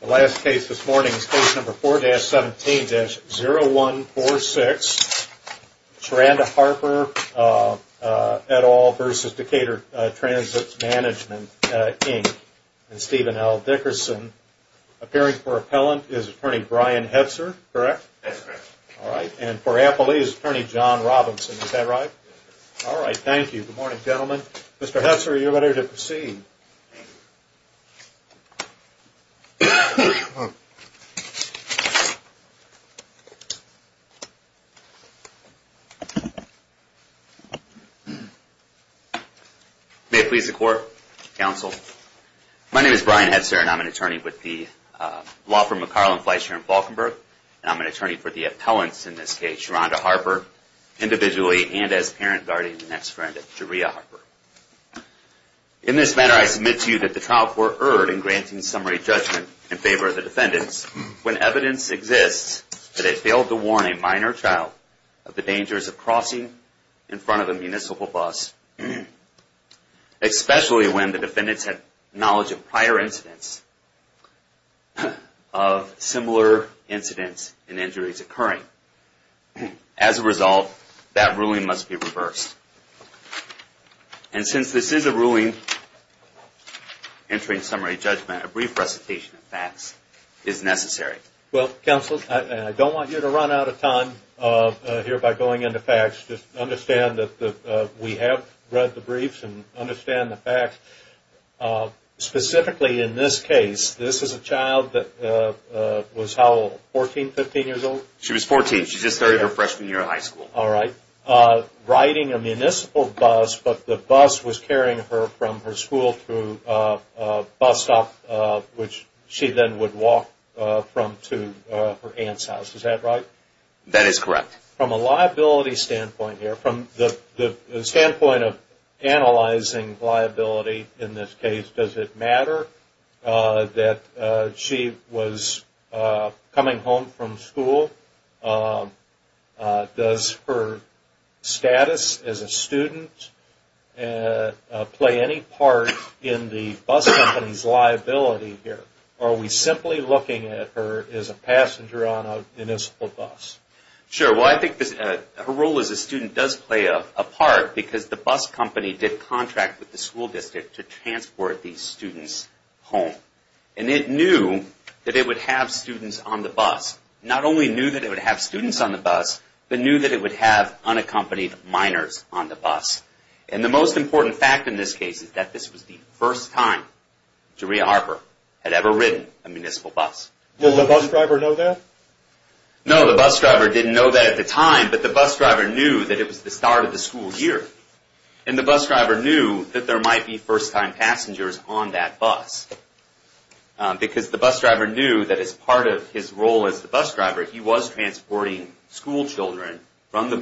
The last case this morning is case number 4-17-0146, Sharanda Harper et al. v. Decatur Transit Management, Inc. and Stephen L. Dickerson. Appearing for appellant is Attorney Brian Hetzer, correct? That's correct. All right, and for appellee is Attorney John Robinson, is that right? Yes. All right, thank you. Good morning, gentlemen. Mr. Hetzer, are you ready to proceed? May it please the Court, Counsel, my name is Brian Hetzer and I'm an attorney with the law firm McCarland Flights here in Falkenburg and I'm an attorney for the appellants in this case, Sharanda Harper, individually and as parent, guardian, and ex-friend of Sharanda Harper. In this matter, I submit to you that the trial court erred in granting summary judgment in favor of the defendants when evidence exists that it failed to warn a minor child of the dangers of crossing in front of a municipal bus, especially when the defendants had knowledge of prior incidents of similar incidents and injuries occurring. As a result, that ruling must be reversed. And since this is a ruling, entering summary judgment, a brief recitation of facts is necessary. Well, Counsel, I don't want you to run out of time here by going into facts. Just understand that we have read the briefs and understand the facts. Specifically in this case, this is a child that was how old, 14, 15 years old? She was 14. She just started her freshman year of high school. All right. Riding a municipal bus, but the bus was carrying her from her school to a bus stop, which she then would walk from to her aunt's house. Is that right? That is correct. From a liability standpoint here, from the standpoint of analyzing liability in this case, does it matter that she was coming home from school? Does her status as a student play any part in the bus company's liability here? Or are we simply looking at her as a passenger on a municipal bus? Sure. Well, I think her role as a student does play a part because the bus company did contract with the school district to transport these students home. And it knew that it would have students on the bus. Not only knew that it would have students on the bus, but knew that it would have unaccompanied minors on the bus. And the most important fact in this case is that this was the first time Jeria Harper had ever ridden a municipal bus. Did the bus driver know that? No, the bus driver didn't know that at the time, but the bus driver knew that it was the start of the school year. And the bus driver knew that there might be first-time passengers on that bus. Because the bus driver knew that as part of his role as the bus driver, he was transporting school children from the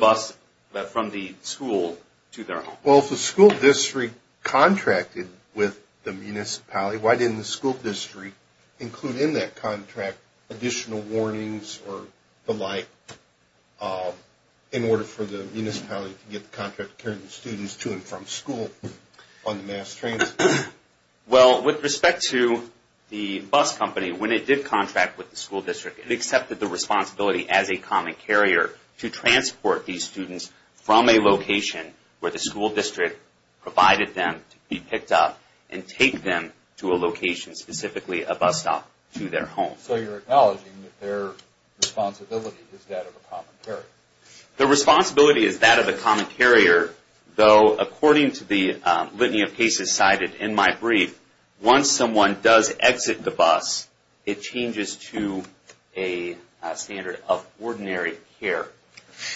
school to their home. Well, if the school district contracted with the municipality, why didn't the school district include in that contract additional warnings or the like in order for the municipality to get the contract to carry the students to and from school on the mass transit? Well, with respect to the bus company, when it did contract with the school district, it accepted the responsibility as a common carrier to transport these students from a location where the school district provided them to be picked up and take them to a location, specifically a bus stop, to their home. So you're acknowledging that their responsibility is that of a common carrier. Their responsibility is that of a common carrier, though according to the litany of cases cited in my brief, once someone does exit the bus, it changes to a standard of ordinary care.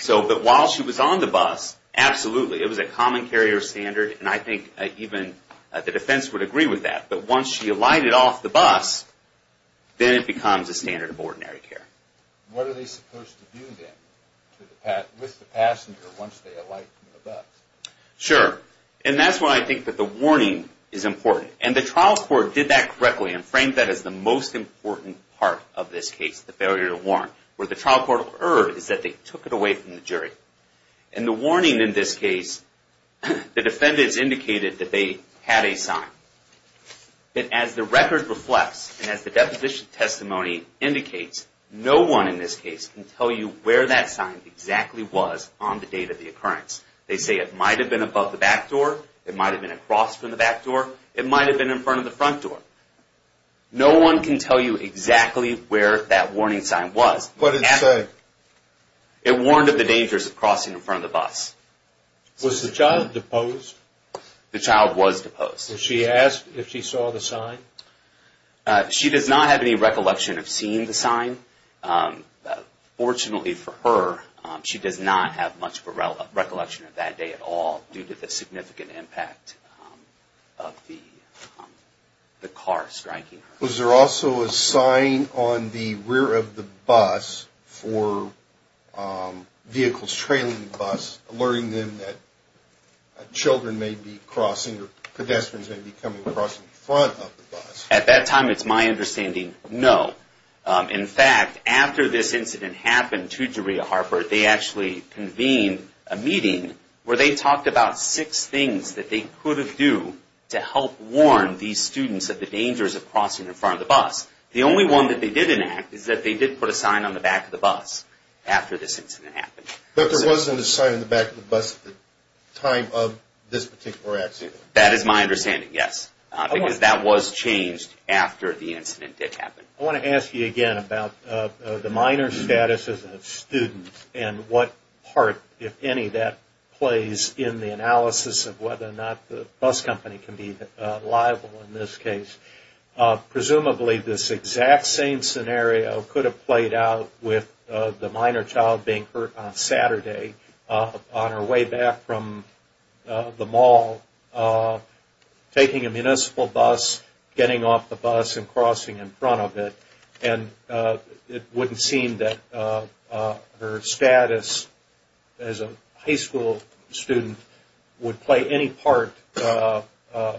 But while she was on the bus, absolutely. It was a common carrier standard, and I think even the defense would agree with that. But once she alighted off the bus, then it becomes a standard of ordinary care. What are they supposed to do then with the passenger once they alight from the bus? Sure. And that's why I think that the warning is important. And the trial court did that correctly and framed that as the most important part of this case, the failure to warn. Where the trial court erred is that they took it away from the jury. And the warning in this case, the defendants indicated that they had a sign. But as the record reflects, and as the deposition testimony indicates, no one in this case can tell you where that sign exactly was on the date of the occurrence. They say it might have been above the back door, it might have been across from the back door, it might have been in front of the front door. No one can tell you exactly where that warning sign was. What did it say? It warned of the dangers of crossing in front of the bus. Was the child deposed? The child was deposed. Was she asked if she saw the sign? She does not have any recollection of seeing the sign. Fortunately for her, she does not have much recollection of that day at all due to the significant impact of the car striking her. Was there also a sign on the rear of the bus for vehicles trailing the bus, alerting them that children may be crossing, or pedestrians may be coming across in front of the bus? At that time, it's my understanding, no. In fact, after this incident happened to Jaria Harper, they actually convened a meeting where they talked about six things that they could have do to help warn these students of the dangers of crossing in front of the bus. The only one that they did enact is that they did put a sign on the back of the bus after this incident happened. But there wasn't a sign on the back of the bus at the time of this particular accident? That is my understanding, yes, because that was changed after the incident did happen. I want to ask you again about the minor status of the student and what part, if any, that plays in the analysis of whether or not the bus company can be liable in this case. Presumably, this exact same scenario could have played out with the minor child being hurt on Saturday on her way back from the mall, taking a municipal bus, getting off the bus and crossing in front of it, and it wouldn't seem that her status as a high school student would play any part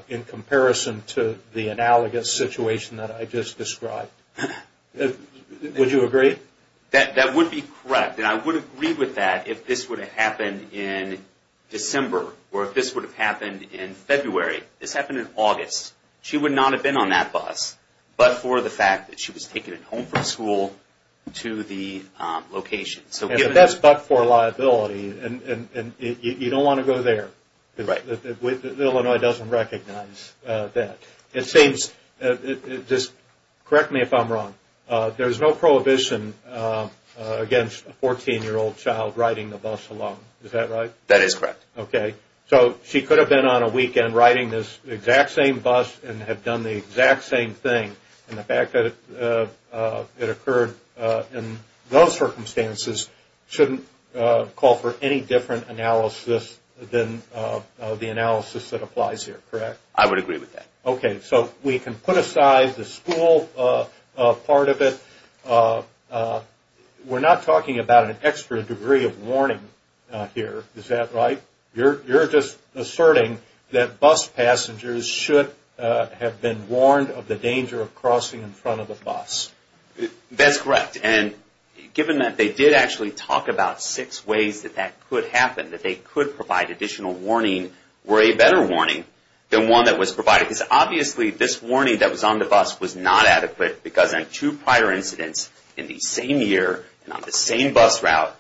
in comparison to the analogous situation that I just described. Would you agree? That would be correct, and I would agree with that if this would have happened in December or if this would have happened in February. This happened in August. She would not have been on that bus but for the fact that she was taken home from school to the location. That's but for liability, and you don't want to go there. Illinois doesn't recognize that. Just correct me if I'm wrong. There's no prohibition against a 14-year-old child riding the bus alone. Is that right? That is correct. Okay. So she could have been on a weekend riding this exact same bus and have done the exact same thing, and the fact that it occurred in those circumstances shouldn't call for any different analysis than the analysis that applies here, correct? I would agree with that. Okay. So we can put aside the school part of it. We're not talking about an extra degree of warning here. Is that right? You're just asserting that bus passengers should have been warned of the danger of crossing in front of the bus. That's correct, and given that they did actually talk about six ways that that could happen, that they could provide additional warning or a better warning than one that was provided. Because obviously this warning that was on the bus was not adequate, because in two prior incidents in the same year and on the same bus route,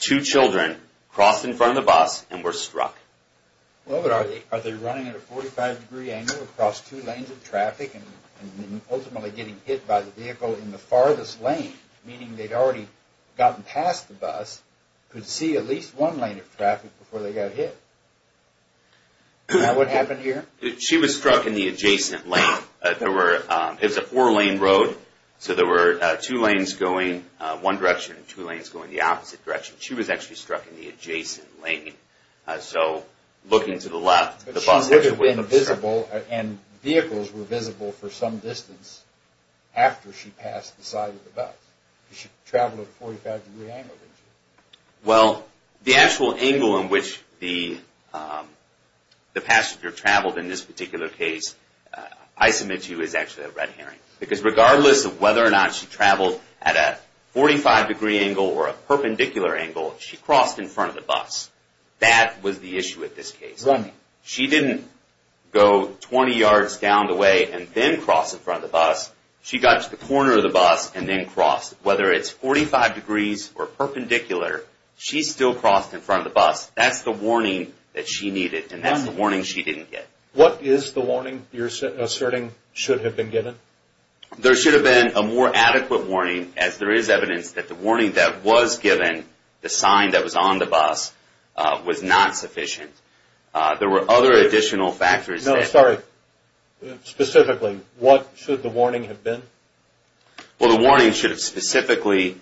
two children crossed in front of the bus and were struck. Well, but are they running at a 45-degree angle across two lanes of traffic and ultimately getting hit by the vehicle in the farthest lane, meaning they'd already gotten past the bus, could see at least one lane of traffic before they got hit? Is that what happened here? She was struck in the adjacent lane. It was a four-lane road, so there were two lanes going one direction and two lanes going the opposite direction. She was actually struck in the adjacent lane. So looking to the left, the bus actually wouldn't have struck. But she could have been visible, and vehicles were visible for some distance after she passed the side of the bus. She traveled at a 45-degree angle, didn't she? Well, the actual angle in which the passenger traveled in this particular case, I submit to you is actually a red herring. Because regardless of whether or not she traveled at a 45-degree angle or a perpendicular angle, she crossed in front of the bus. That was the issue with this case. She didn't go 20 yards down the way and then cross in front of the bus. She got to the corner of the bus and then crossed. Whether it's 45 degrees or perpendicular, she still crossed in front of the bus. That's the warning that she needed, and that's the warning she didn't get. What is the warning you're asserting should have been given? There should have been a more adequate warning, as there is evidence that the warning that was given, the sign that was on the bus, was not sufficient. There were other additional factors. No, sorry. Specifically, what should the warning have been? Well, the warning should have specifically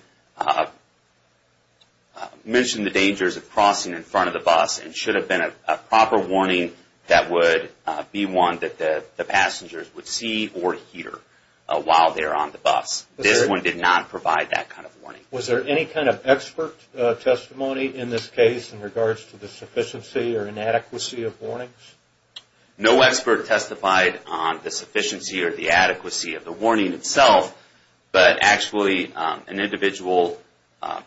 mentioned the dangers of crossing in front of the bus and should have been a proper warning that would be one that the passengers would see or hear while they're on the bus. This one did not provide that kind of warning. Was there any kind of expert testimony in this case in regards to the sufficiency or inadequacy of warnings? No expert testified on the sufficiency or the adequacy of the warning itself, but actually an individual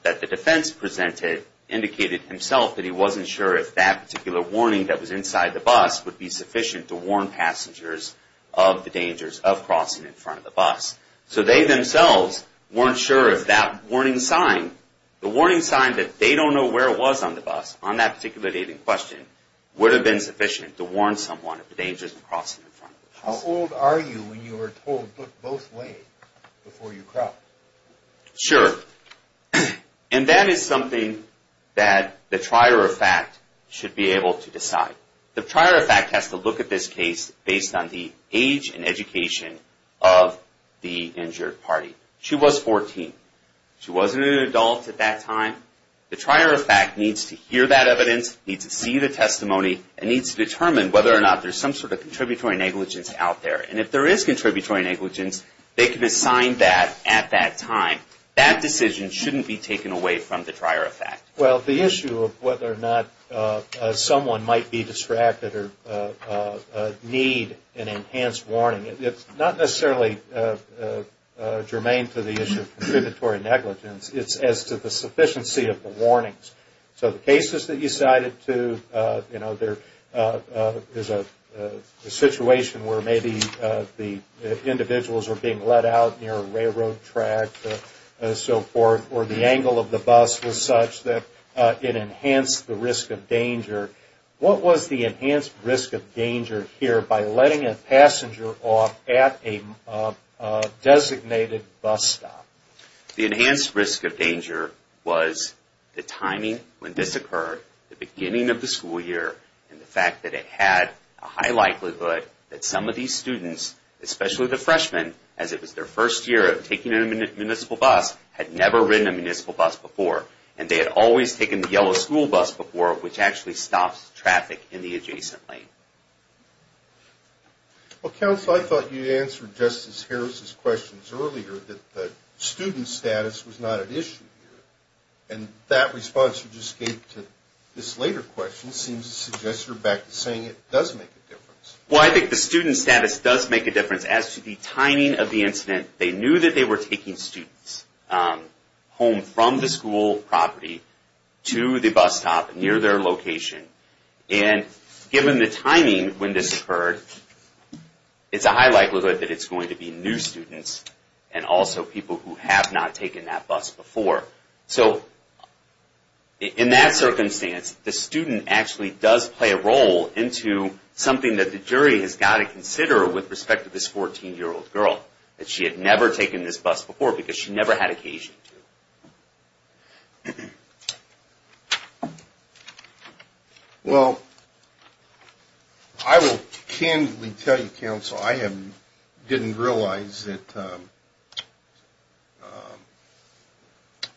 that the defense presented indicated himself that he wasn't sure if that particular warning that was inside the bus would be sufficient to warn passengers of the dangers of crossing in front of the bus. So they themselves weren't sure if that warning sign, the warning sign that they don't know where it was on the bus, on that particular dating question would have been sufficient to warn someone of the dangers of crossing in front of the bus. How old are you when you were told look both ways before you cross? Sure. And that is something that the trier of fact should be able to decide. The trier of fact has to look at this case based on the age and education of the injured party. She was 14. She wasn't an adult at that time. The trier of fact needs to hear that evidence, needs to see the testimony, and needs to determine whether or not there's some sort of contributory negligence out there. And if there is contributory negligence, they can assign that at that time. That decision shouldn't be taken away from the trier of fact. Well, the issue of whether or not someone might be distracted or need an enhanced warning, it's not necessarily germane to the issue of contributory negligence. It's as to the sufficiency of the warnings. So the cases that you cited, too, you know, there's a situation where maybe the individuals are being let out near a railroad track and so forth, or the angle of the bus was such that it enhanced the risk of danger. What was the enhanced risk of danger here by letting a passenger off at a designated bus stop? The enhanced risk of danger was the timing when this occurred, the beginning of the school year, and the fact that it had a high likelihood that some of these students, especially the freshmen, as it was their first year of taking a municipal bus, had never ridden a municipal bus before, and they had always taken the yellow school bus before, which actually stops traffic in the adjacent lane. Well, Counsel, I thought you answered Justice Harris' questions earlier that the student status was not an issue here, and that response you just gave to this later question seems to suggest you're back to saying it does make a difference. Well, I think the student status does make a difference. As to the timing of the incident, they knew that they were taking students home from the school property to the bus stop near their location, and given the timing when this occurred, it's a high likelihood that it's going to be new students and also people who have not taken that bus before. So in that circumstance, the student actually does play a role into something that the jury has got to consider with respect to this 14-year-old girl, that she had never taken this bus before because she never had occasion to. Well, I will candidly tell you, Counsel, I didn't realize that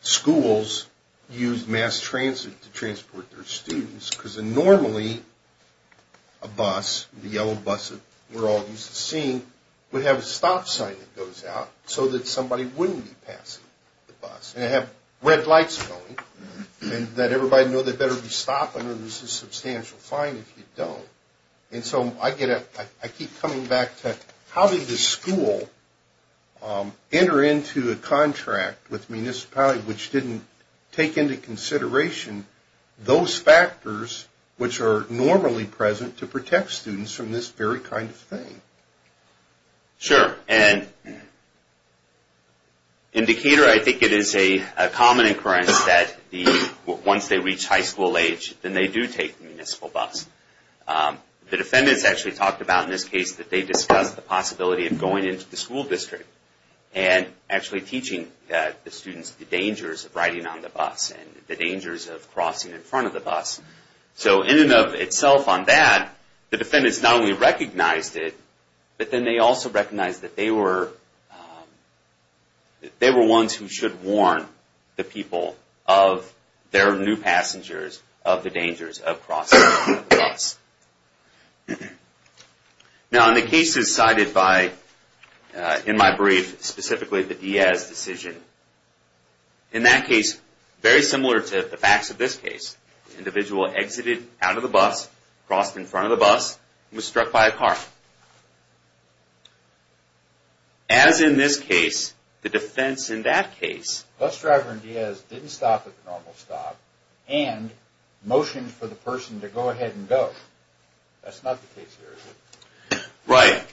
schools use mass transit to transport their students because normally a bus, the yellow bus that we're all used to seeing, would have a stop sign that goes out so that somebody wouldn't be passing the bus, and have red lights going, and let everybody know they better be stopping or there's a substantial fine if you don't. And so I keep coming back to how did the school enter into a contract with the municipality which didn't take into consideration those factors which are normally present to protect students from this very kind of thing? Sure. And in Decatur, I think it is a common occurrence that once they reach high school age, then they do take the municipal bus. The defendants actually talked about in this case that they discussed the possibility of going into the school district and actually teaching the students the dangers of riding on the bus and the dangers of crossing in front of the bus. So in and of itself on that, the defendants not only recognized it, but then they also recognized that they were ones who should warn the people of their new passengers of the dangers of crossing the bus. Now in the cases cited in my brief, specifically the Diaz decision, in that case, very similar to the facts of this case, the individual exited out of the bus, crossed in front of the bus, and was struck by a car. As in this case, the defense in that case, the bus driver and Diaz didn't stop at the normal stop and motioned for the person to go ahead and go. That's not the case here, is it? Right.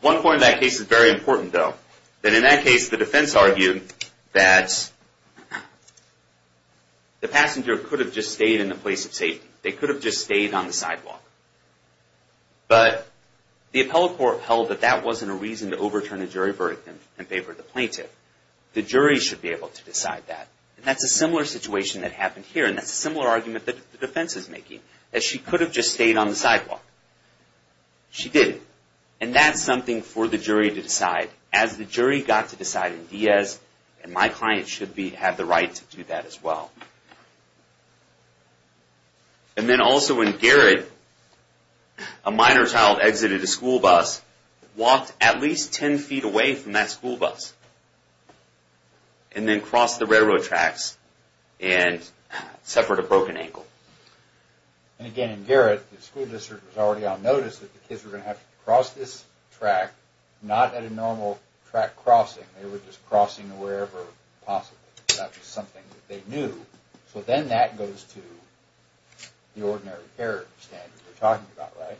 One point in that case is very important, though. In that case, the defense argued that the passenger could have just stayed in the place of safety. They could have just stayed on the sidewalk. But the appellate court held that that wasn't a reason to overturn the jury verdict and favor the plaintiff. The jury should be able to decide that. And that's a similar situation that happened here, and that's a similar argument that the defense is making, that she could have just stayed on the sidewalk. She didn't. And that's something for the jury to decide. As the jury got to decide in Diaz, and my client should have the right to do that as well. And then also in Garrett, a minor child exited a school bus, walked at least 10 feet away from that school bus, and then crossed the railroad tracks and suffered a broken ankle. And again, in Garrett, the school district was already on notice that the kids were going to have to cross this track, not at a normal track crossing. They were just crossing wherever possible. That was something that they knew. So then that goes to the ordinary care standard we're talking about, right?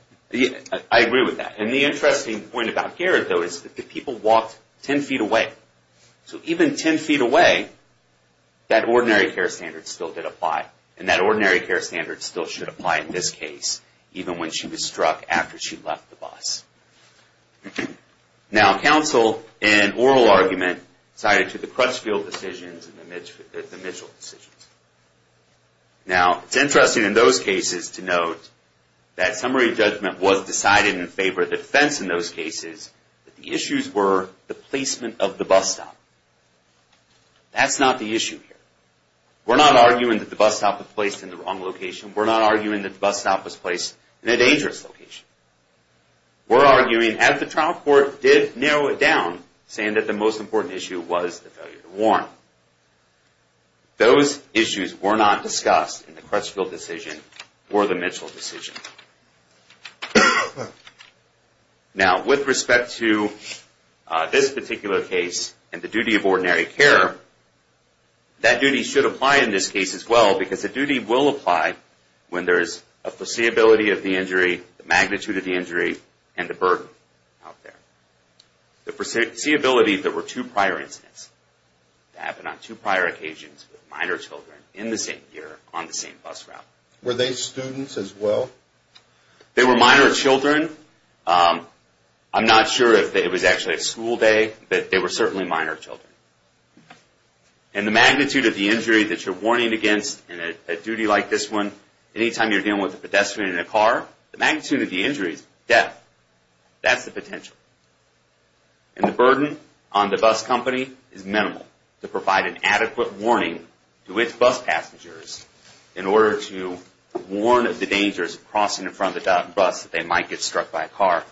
I agree with that. And the interesting point about Garrett, though, is that the people walked 10 feet away. So even 10 feet away, that ordinary care standard still did apply. And that ordinary care standard still should apply in this case, even when she was struck after she left the bus. Now, counsel in oral argument cited to the Crutchfield decisions and the Mitchell decisions. Now, it's interesting in those cases to note that summary judgment was decided in favor of the defense in those cases, but the issues were the placement of the bus stop. That's not the issue here. We're not arguing that the bus stop was placed in the wrong location. We're not arguing that the bus stop was placed in a dangerous location. We're arguing, as the trial court did narrow it down, saying that the most important issue was the failure to warn. Those issues were not discussed in the Crutchfield decision or the Mitchell decision. Now, with respect to this particular case and the duty of ordinary care, that duty should apply in this case as well because the duty will apply when there is a foreseeability of the injury, the magnitude of the injury, and the burden out there. The foreseeability that were two prior incidents that happened on two prior occasions with minor children in the same year on the same bus route. Were they students as well? They were minor children. I'm not sure if it was actually a school day, but they were certainly minor children. And the magnitude of the injury that you're warning against in a duty like this one, anytime you're dealing with a pedestrian in a car, the magnitude of the injury is death. That's the potential. And the burden on the bus company is minimal to provide an adequate warning to its bus passengers in order to warn of the dangers of crossing in front of the bus that they might get struck by a car.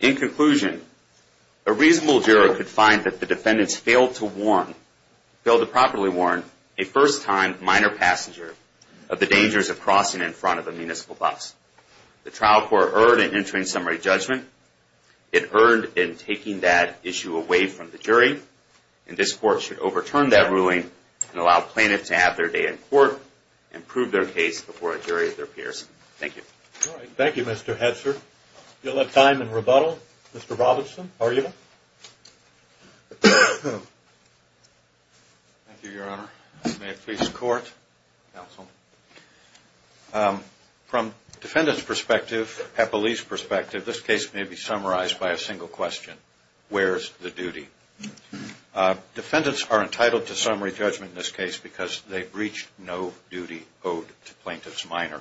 In conclusion, a reasonable jury could find that the defendants failed to warn, failed to properly warn a first-time minor passenger of the dangers of crossing in front of a municipal bus. The trial court erred in entering summary judgment. It erred in taking that issue away from the jury. And this court should overturn that ruling and allow plaintiffs to have their day in court and prove their case before a jury of their peers. Thank you. Thank you, Mr. Hetzer. You'll have time in rebuttal. Mr. Robinson, argument? Thank you, Your Honor. May it please the court, counsel. From defendant's perspective, a police perspective, this case may be summarized by a single question. Where's the duty? Defendants are entitled to summary judgment in this case because they breached no duty owed to plaintiff's minor.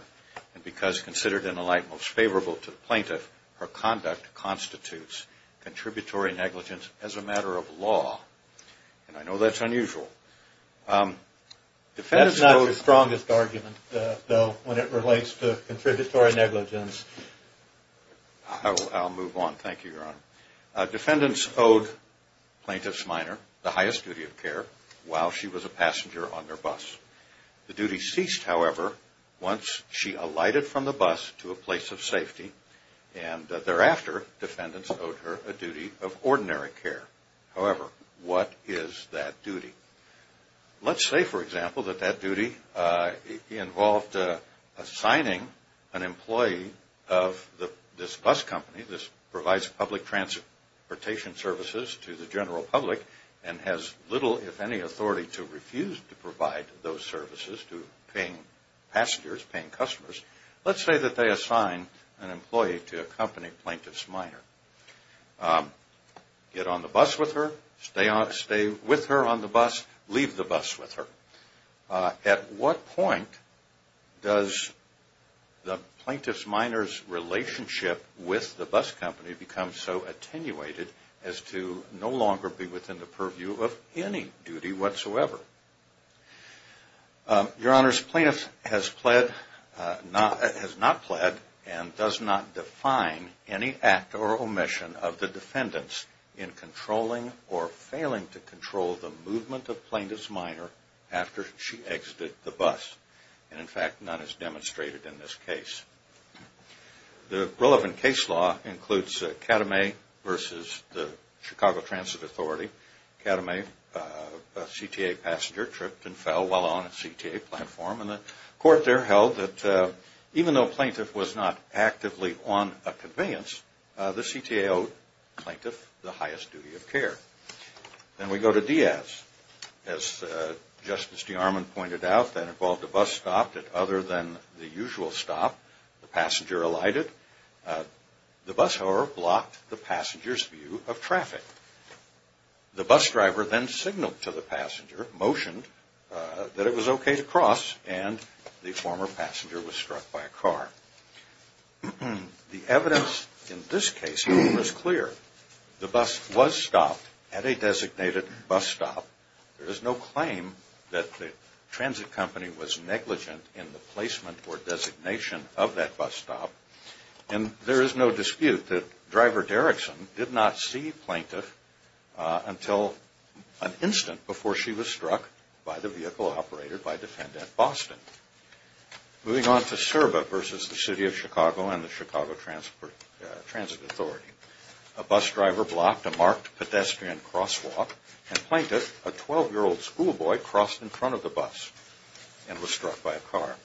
And because considered in a light most favorable to the plaintiff, her conduct constitutes contributory negligence as a matter of law. And I know that's unusual. That's not your strongest argument, though, when it relates to contributory negligence. I'll move on. Thank you, Your Honor. Defendants owed plaintiff's minor the highest duty of care while she was a passenger on their bus. The duty ceased, however, once she alighted from the bus to a place of safety. And thereafter, defendants owed her a duty of ordinary care. However, what is that duty? Let's say, for example, that that duty involved assigning an employee of this bus company that provides public transportation services to the general public and has little, if any, authority to refuse to provide those services to paying passengers, paying customers. Let's say that they assign an employee to accompany plaintiff's minor. Get on the bus with her. Stay with her on the bus. Leave the bus with her. At what point does the plaintiff's minor's relationship with the bus company become so attenuated as to no longer be within the purview of any duty whatsoever? Your Honor, plaintiff has not pled and does not define any act or omission of the defendant's in controlling or failing to control the movement of plaintiff's minor after she exited the bus. And, in fact, none is demonstrated in this case. The relevant case law includes Kadame versus the Chicago Transit Authority. Kadame, a CTA passenger, tripped and fell while on a CTA platform. And the court there held that even though plaintiff was not actively on a convenience, the CTA owed plaintiff the highest duty of care. Then we go to Diaz. As Justice DeArmond pointed out, that involved a bus stop that other than the usual stop, the passenger alighted. The bus, however, blocked the passenger's view of traffic. The bus driver then signaled to the passenger, motioned that it was okay to cross, The evidence in this case was clear. The bus was stopped at a designated bus stop. There is no claim that the transit company was negligent in the placement or designation of that bus stop. And there is no dispute that driver Derrickson did not see plaintiff until an instant before she was struck by the vehicle operated by Defendant Boston. Moving on to Serba versus the City of Chicago and the Chicago Transit Authority. A bus driver blocked a marked pedestrian crosswalk, and plaintiff, a 12-year-old schoolboy, crossed in front of the bus and was struck by a car.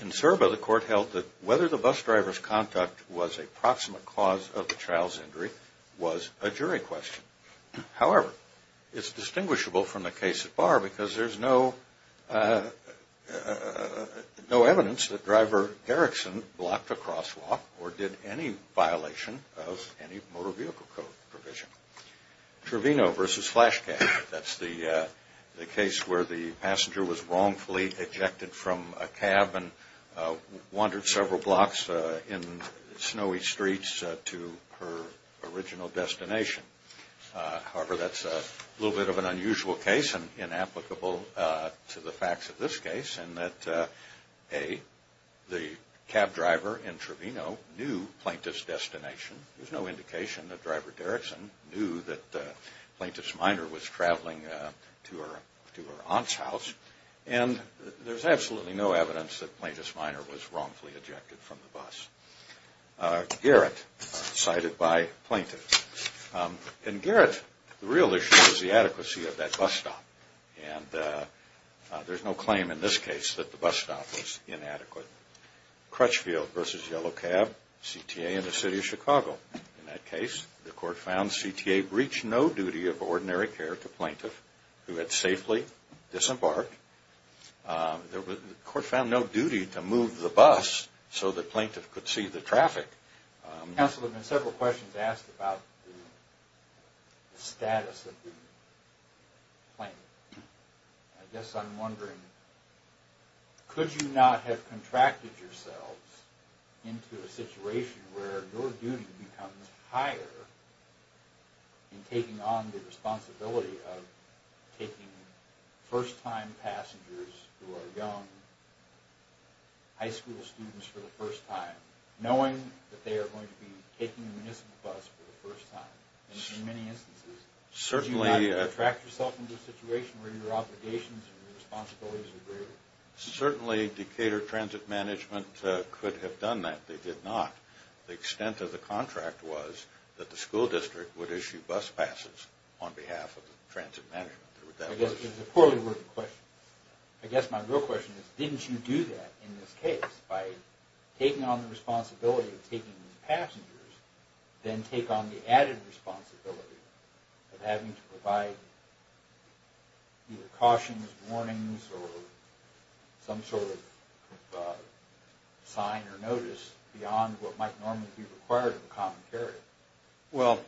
In Serba, the court held that whether the bus driver's conduct was a proximate cause of the child's injury was a jury question. However, it's distinguishable from the case at Bar because there's no evidence that driver Derrickson blocked a crosswalk or did any violation of any motor vehicle code provision. Trevino versus Flash Cab. That's the case where the passenger was wrongfully ejected from a cab and wandered several blocks in snowy streets to her original destination. However, that's a little bit of an unusual case and inapplicable to the facts of this case in that A, the cab driver in Trevino knew plaintiff's destination. There's no indication that driver Derrickson knew that plaintiff's minor was traveling to her aunt's house. And there's absolutely no evidence that plaintiff's minor was wrongfully ejected from the bus. Garrett cited by plaintiff. In Garrett, the real issue was the adequacy of that bus stop. And there's no claim in this case that the bus stop was inadequate. Crutchfield versus Yellow Cab. CTA in the city of Chicago. In that case, the court found CTA breached no duty of ordinary care to plaintiff who had safely disembarked. The court found no duty to move the bus so that plaintiff could see the traffic. Counsel, there have been several questions asked about the status of the plaintiff. I guess I'm wondering, could you not have contracted yourselves into a situation where your duty becomes higher in taking on the responsibility of taking first-time passengers who are young, high school students for the first time, knowing that they are going to be taking a municipal bus for the first time? In many instances, could you not contract yourself into a situation where your obligations and responsibilities are greater? Certainly, Decatur Transit Management could have done that. They did not. The extent of the contract was that the school district would issue bus passes on behalf of the transit management. I guess it's a poorly written question. I guess my real question is, didn't you do that in this case by taking on the responsibility of taking these passengers, then take on the added responsibility of having to provide either cautions, warnings, or some sort of sign or notice beyond what might normally be required of a common carrier? Well,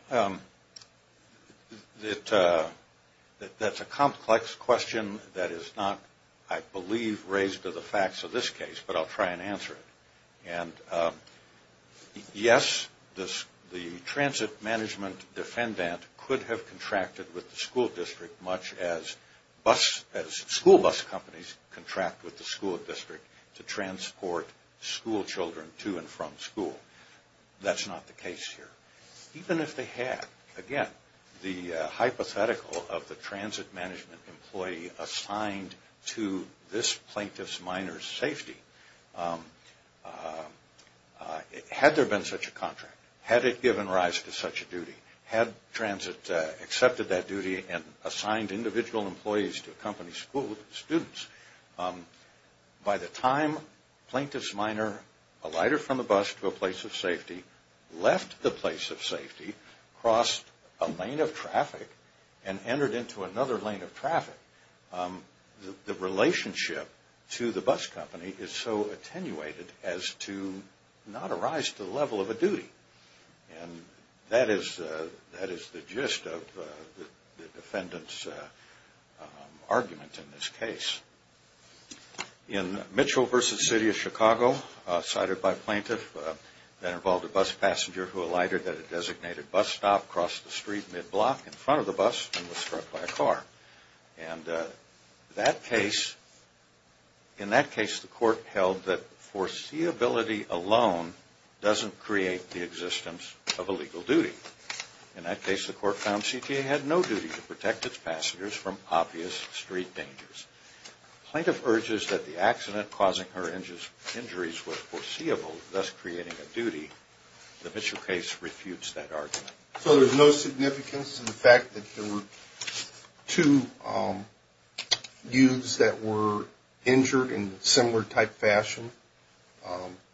that's a complex question that is not, I believe, raised to the facts of this case, but I'll try and answer it. And yes, the transit management defendant could have contracted with the school district much as school bus companies contract with the school district to transport school children to and from school. That's not the case here. Even if they had, again, the hypothetical of the transit management employee assigned to this plaintiff's minor's safety, had there been such a contract, had it given rise to such a duty, had transit accepted that duty and assigned individual employees to accompany school students, by the time plaintiff's minor alighted from the bus to a place of safety, left the place of safety, crossed a lane of traffic, and entered into another lane of traffic, the relationship to the bus company is so attenuated as to not arise to the level of a duty. And that is the gist of the defendant's argument in this case. In Mitchell v. City of Chicago, cited by plaintiff, that involved a bus passenger who alighted at a designated bus stop, crossed the street mid-block in front of the bus, and was struck by a car. And in that case, the court held that foreseeability alone doesn't create the existence of a legal duty. In that case, the court found CTA had no duty to protect its passengers from obvious street dangers. Plaintiff urges that the accident causing her injuries was foreseeable, thus creating a duty. The Mitchell case refutes that argument. So there's no significance to the fact that there were two youths that were injured in similar type fashion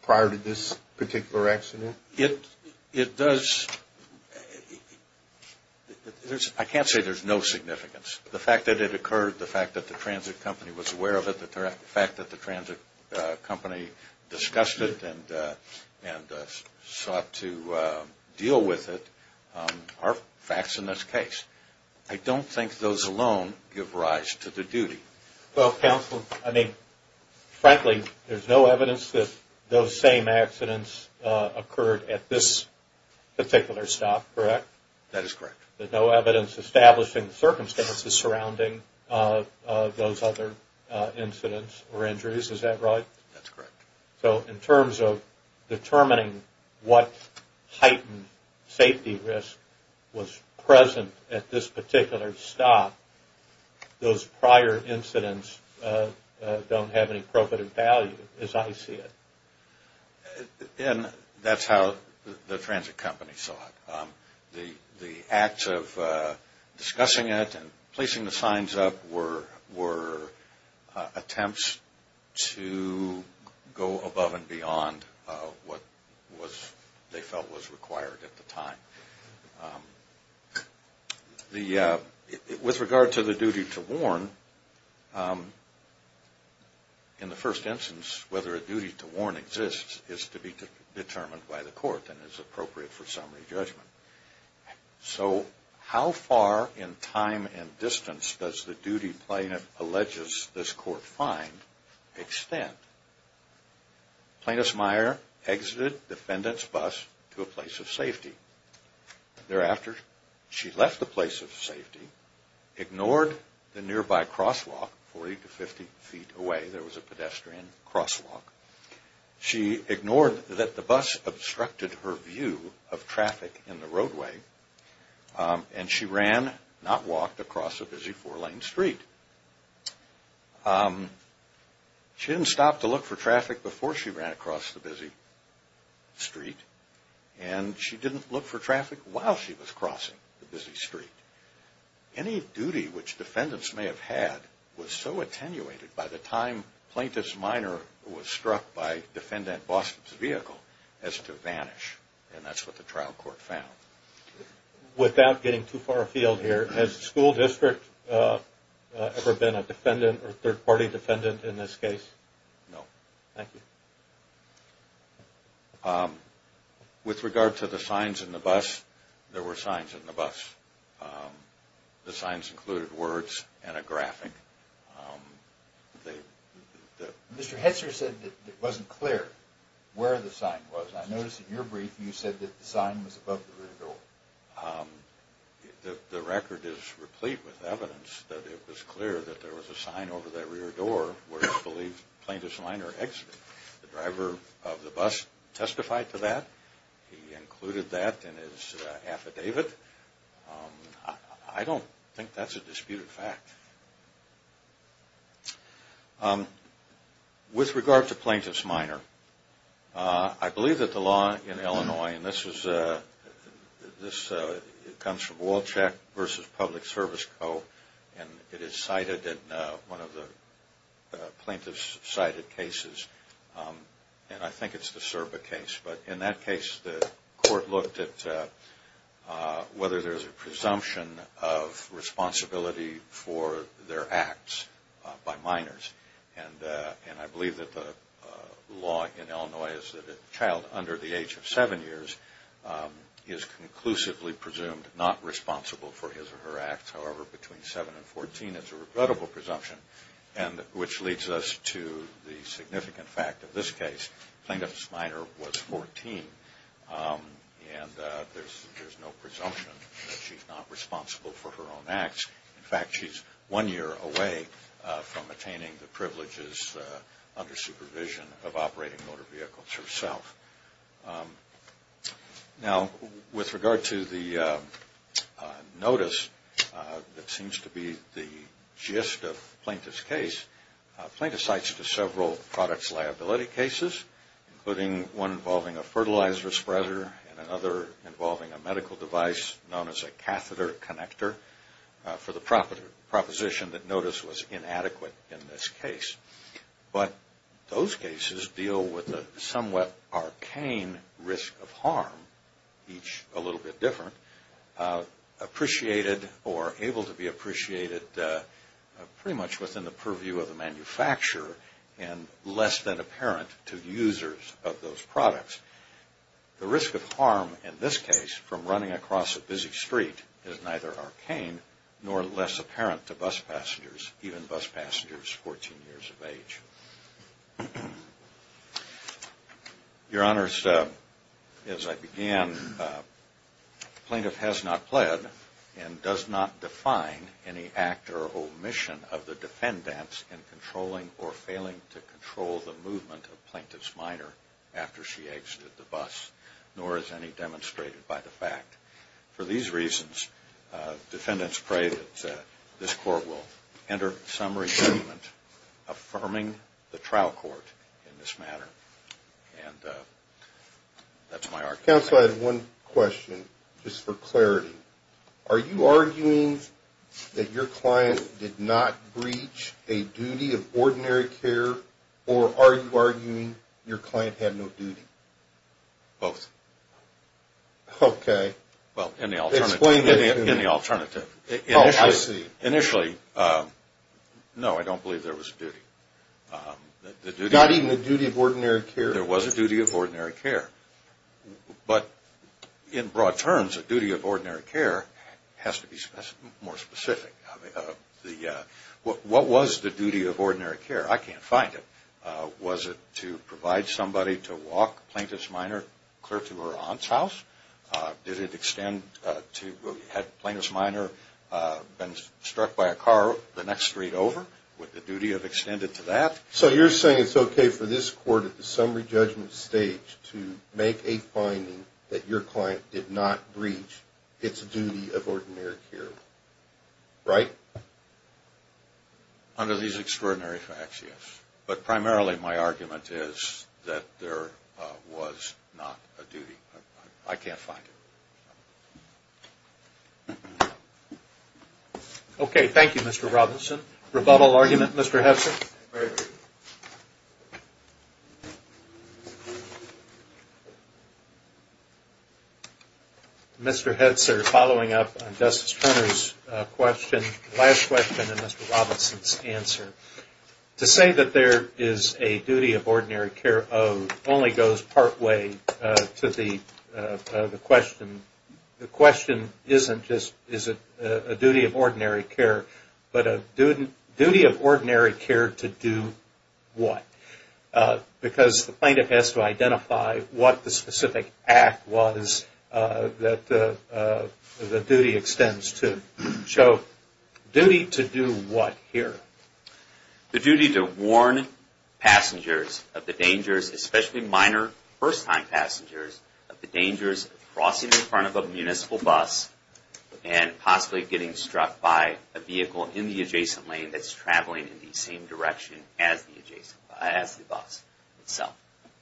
prior to this particular accident? It does. I can't say there's no significance. The fact that it occurred, the fact that the transit company was aware of it, the fact that the transit company discussed it and sought to deal with it are facts in this case. I don't think those alone give rise to the duty. Well, counsel, I mean, frankly, there's no evidence that those same accidents occurred at this particular stop, correct? That is correct. There's no evidence establishing the circumstances surrounding those other incidents or injuries, is that right? That's correct. So in terms of determining what heightened safety risk was present at this particular stop, those prior incidents don't have any profitable value as I see it. And that's how the transit company saw it. The acts of discussing it and placing the signs up were attempts to go above and beyond what they felt was required at the time. With regard to the duty to warn, in the first instance, whether a duty to warn exists is to be determined by the court and is appropriate for summary judgment. So how far in time and distance does the duty plaintiff alleges this court find extend? Plaintiff's mire exited defendant's bus to a place of safety. Thereafter, she left the place of safety, ignored the nearby crosswalk 40 to 50 feet away. There was a pedestrian crosswalk. She ignored that the bus obstructed her view of traffic in the roadway, and she ran, not walked, across a busy four-lane street. She didn't stop to look for traffic before she ran across the busy street, and she didn't look for traffic while she was crossing the busy street. Any duty which defendants may have had was so attenuated by the time plaintiff's mire was struck by defendant Bostop's vehicle as to vanish. And that's what the trial court found. Without getting too far afield here, has the school district ever been a defendant or third-party defendant in this case? No. Thank you. With regard to the signs in the bus, there were signs in the bus. The signs included words and a graphic. Mr. Hetzer said that it wasn't clear where the sign was. I noticed in your brief you said that the sign was above the rear door. The record is replete with evidence that it was clear that there was a sign over that rear door where it's believed plaintiff's mire exited. The driver of the bus testified to that. He included that in his affidavit. I don't think that's a disputed fact. With regard to plaintiff's mire, I believe that the law in Illinois, and this comes from Wolchek v. Public Service Co., and it is cited in one of the plaintiff's cited cases, and I think it's the Serba case. But in that case, the court looked at whether there's a presumption of responsibility for their acts by minors. And I believe that the law in Illinois is that a child under the age of seven years is conclusively presumed not responsible for his or her acts. However, between seven and 14, it's a regrettable presumption, which leads us to the significant fact of this case. Plaintiff's minor was 14, and there's no presumption that she's not responsible for her own acts. In fact, she's one year away from attaining the privileges under supervision of operating motor vehicles herself. Now, with regard to the notice that seems to be the gist of the plaintiff's case, including one involving a fertilizer spreader and another involving a medical device known as a catheter connector, for the proposition that notice was inadequate in this case, but those cases deal with a somewhat arcane risk of harm, each a little bit different, appreciated or able to be appreciated pretty much within the purview of the manufacturer and less than apparent to users of those products. The risk of harm in this case from running across a busy street is neither arcane nor less apparent to bus passengers, even bus passengers 14 years of age. Your Honors, as I began, the plaintiff has not pled and does not define any act or omission of the defendant's in controlling or failing to control the movement of plaintiff's minor after she exited the bus, nor is any demonstrated by the fact. For these reasons, defendants pray that this Court will enter some resentment affirming the trial court in this matter. And that's my argument. Counsel, I have one question, just for clarity. Are you arguing that your client did not breach a duty of ordinary care, or are you arguing your client had no duty? Both. Okay. Well, in the alternative. Explain it to me. In the alternative. Oh, I see. Initially, no, I don't believe there was a duty. Not even a duty of ordinary care? There was a duty of ordinary care. But in broad terms, a duty of ordinary care has to be more specific. What was the duty of ordinary care? I can't find it. Was it to provide somebody to walk plaintiff's minor clear to her aunt's house? Did it extend to had plaintiff's minor been struck by a car the next street over? Would the duty have extended to that? So you're saying it's okay for this Court, at the summary judgment stage, to make a finding that your client did not breach its duty of ordinary care, right? Under these extraordinary facts, yes. But primarily my argument is that there was not a duty. I can't find it. Okay. Thank you, Mr. Robinson. Rebuttal argument, Mr. Hetzer? Very briefly. Mr. Hetzer, following up on Justice Turner's question, last question in Mr. Robinson's answer, to say that there is a duty of ordinary care only goes partway to the question. The question isn't just is it a duty of ordinary care, but a duty of ordinary care to do what? Because the plaintiff has to identify what the specific act was that the duty extends to. So duty to do what here? The duty to warn passengers of the dangers, especially minor first-time passengers, of the dangers of crossing in front of a municipal bus and possibly getting struck by a vehicle in the adjacent lane that's traveling in the same direction as the bus itself.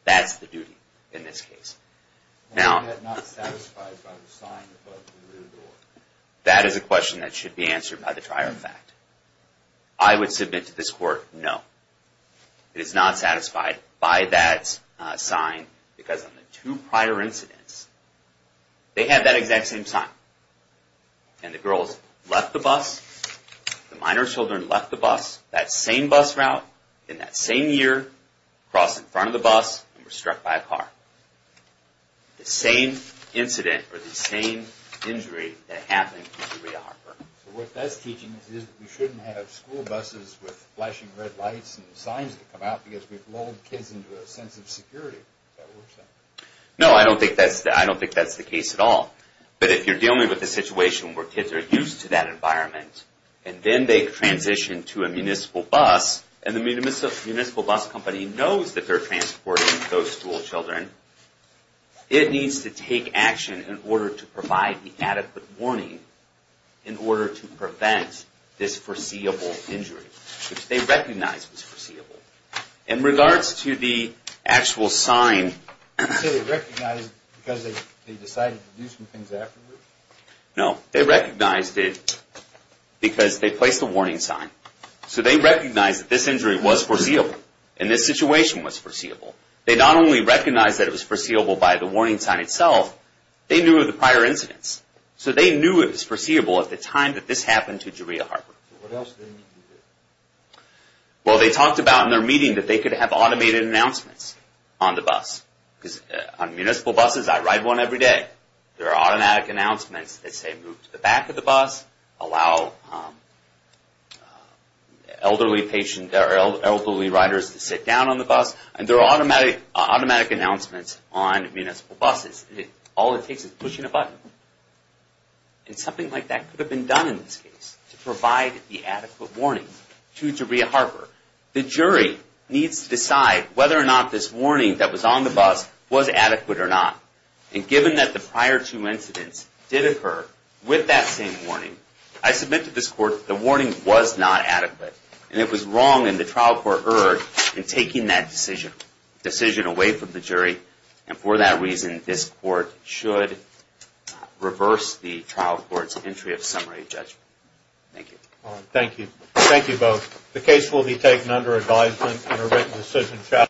That's the duty in this case. Now, that is a question that should be answered by the trier of fact. I would submit to this Court, no. It is not satisfied by that sign because on the two prior incidents, they had that exact same sign. And the girls left the bus, the minor children left the bus, that same bus route in that same year, crossed in front of the bus, and were struck by a car. The same incident or the same injury that happened to Julia Harper. So what that's teaching us is that we shouldn't have school buses with flashing red lights and signs that come out because we've lulled kids into a sense of security. Is that what you're saying? No, I don't think that's the case at all. But if you're dealing with a situation where kids are used to that environment and then they transition to a municipal bus, and the municipal bus company knows that they're transporting those school children, it needs to take action in order to provide the adequate warning in order to prevent this foreseeable injury, which they recognized was foreseeable. In regards to the actual sign... You say they recognized it because they decided to do some things afterwards? No, they recognized it because they placed a warning sign. So they recognized that this injury was foreseeable, and this situation was foreseeable. They not only recognized that it was foreseeable by the warning sign itself, they knew of the prior incidents. So they knew it was foreseeable at the time that this happened to Julia Harper. What else did they need to do? Well, they talked about in their meeting that they could have automated announcements on the bus. On municipal buses, I ride one every day, there are automatic announcements that say move to the back of the bus, allow elderly riders to sit down on the bus, and there are automatic announcements on municipal buses. All it takes is pushing a button. And something like that could have been done in this case to provide the adequate warning to Julia Harper. The jury needs to decide whether or not this warning that was on the bus was adequate or not. And given that the prior two incidents did occur with that same warning, I submit to this court the warning was not adequate. And it was wrong, and the trial court erred in taking that decision away from the jury. And for that reason, this court should reverse the trial court's entry of summary judgment. Thank you. Thank you. Thank you both. The case will be taken under advisement and a written decision.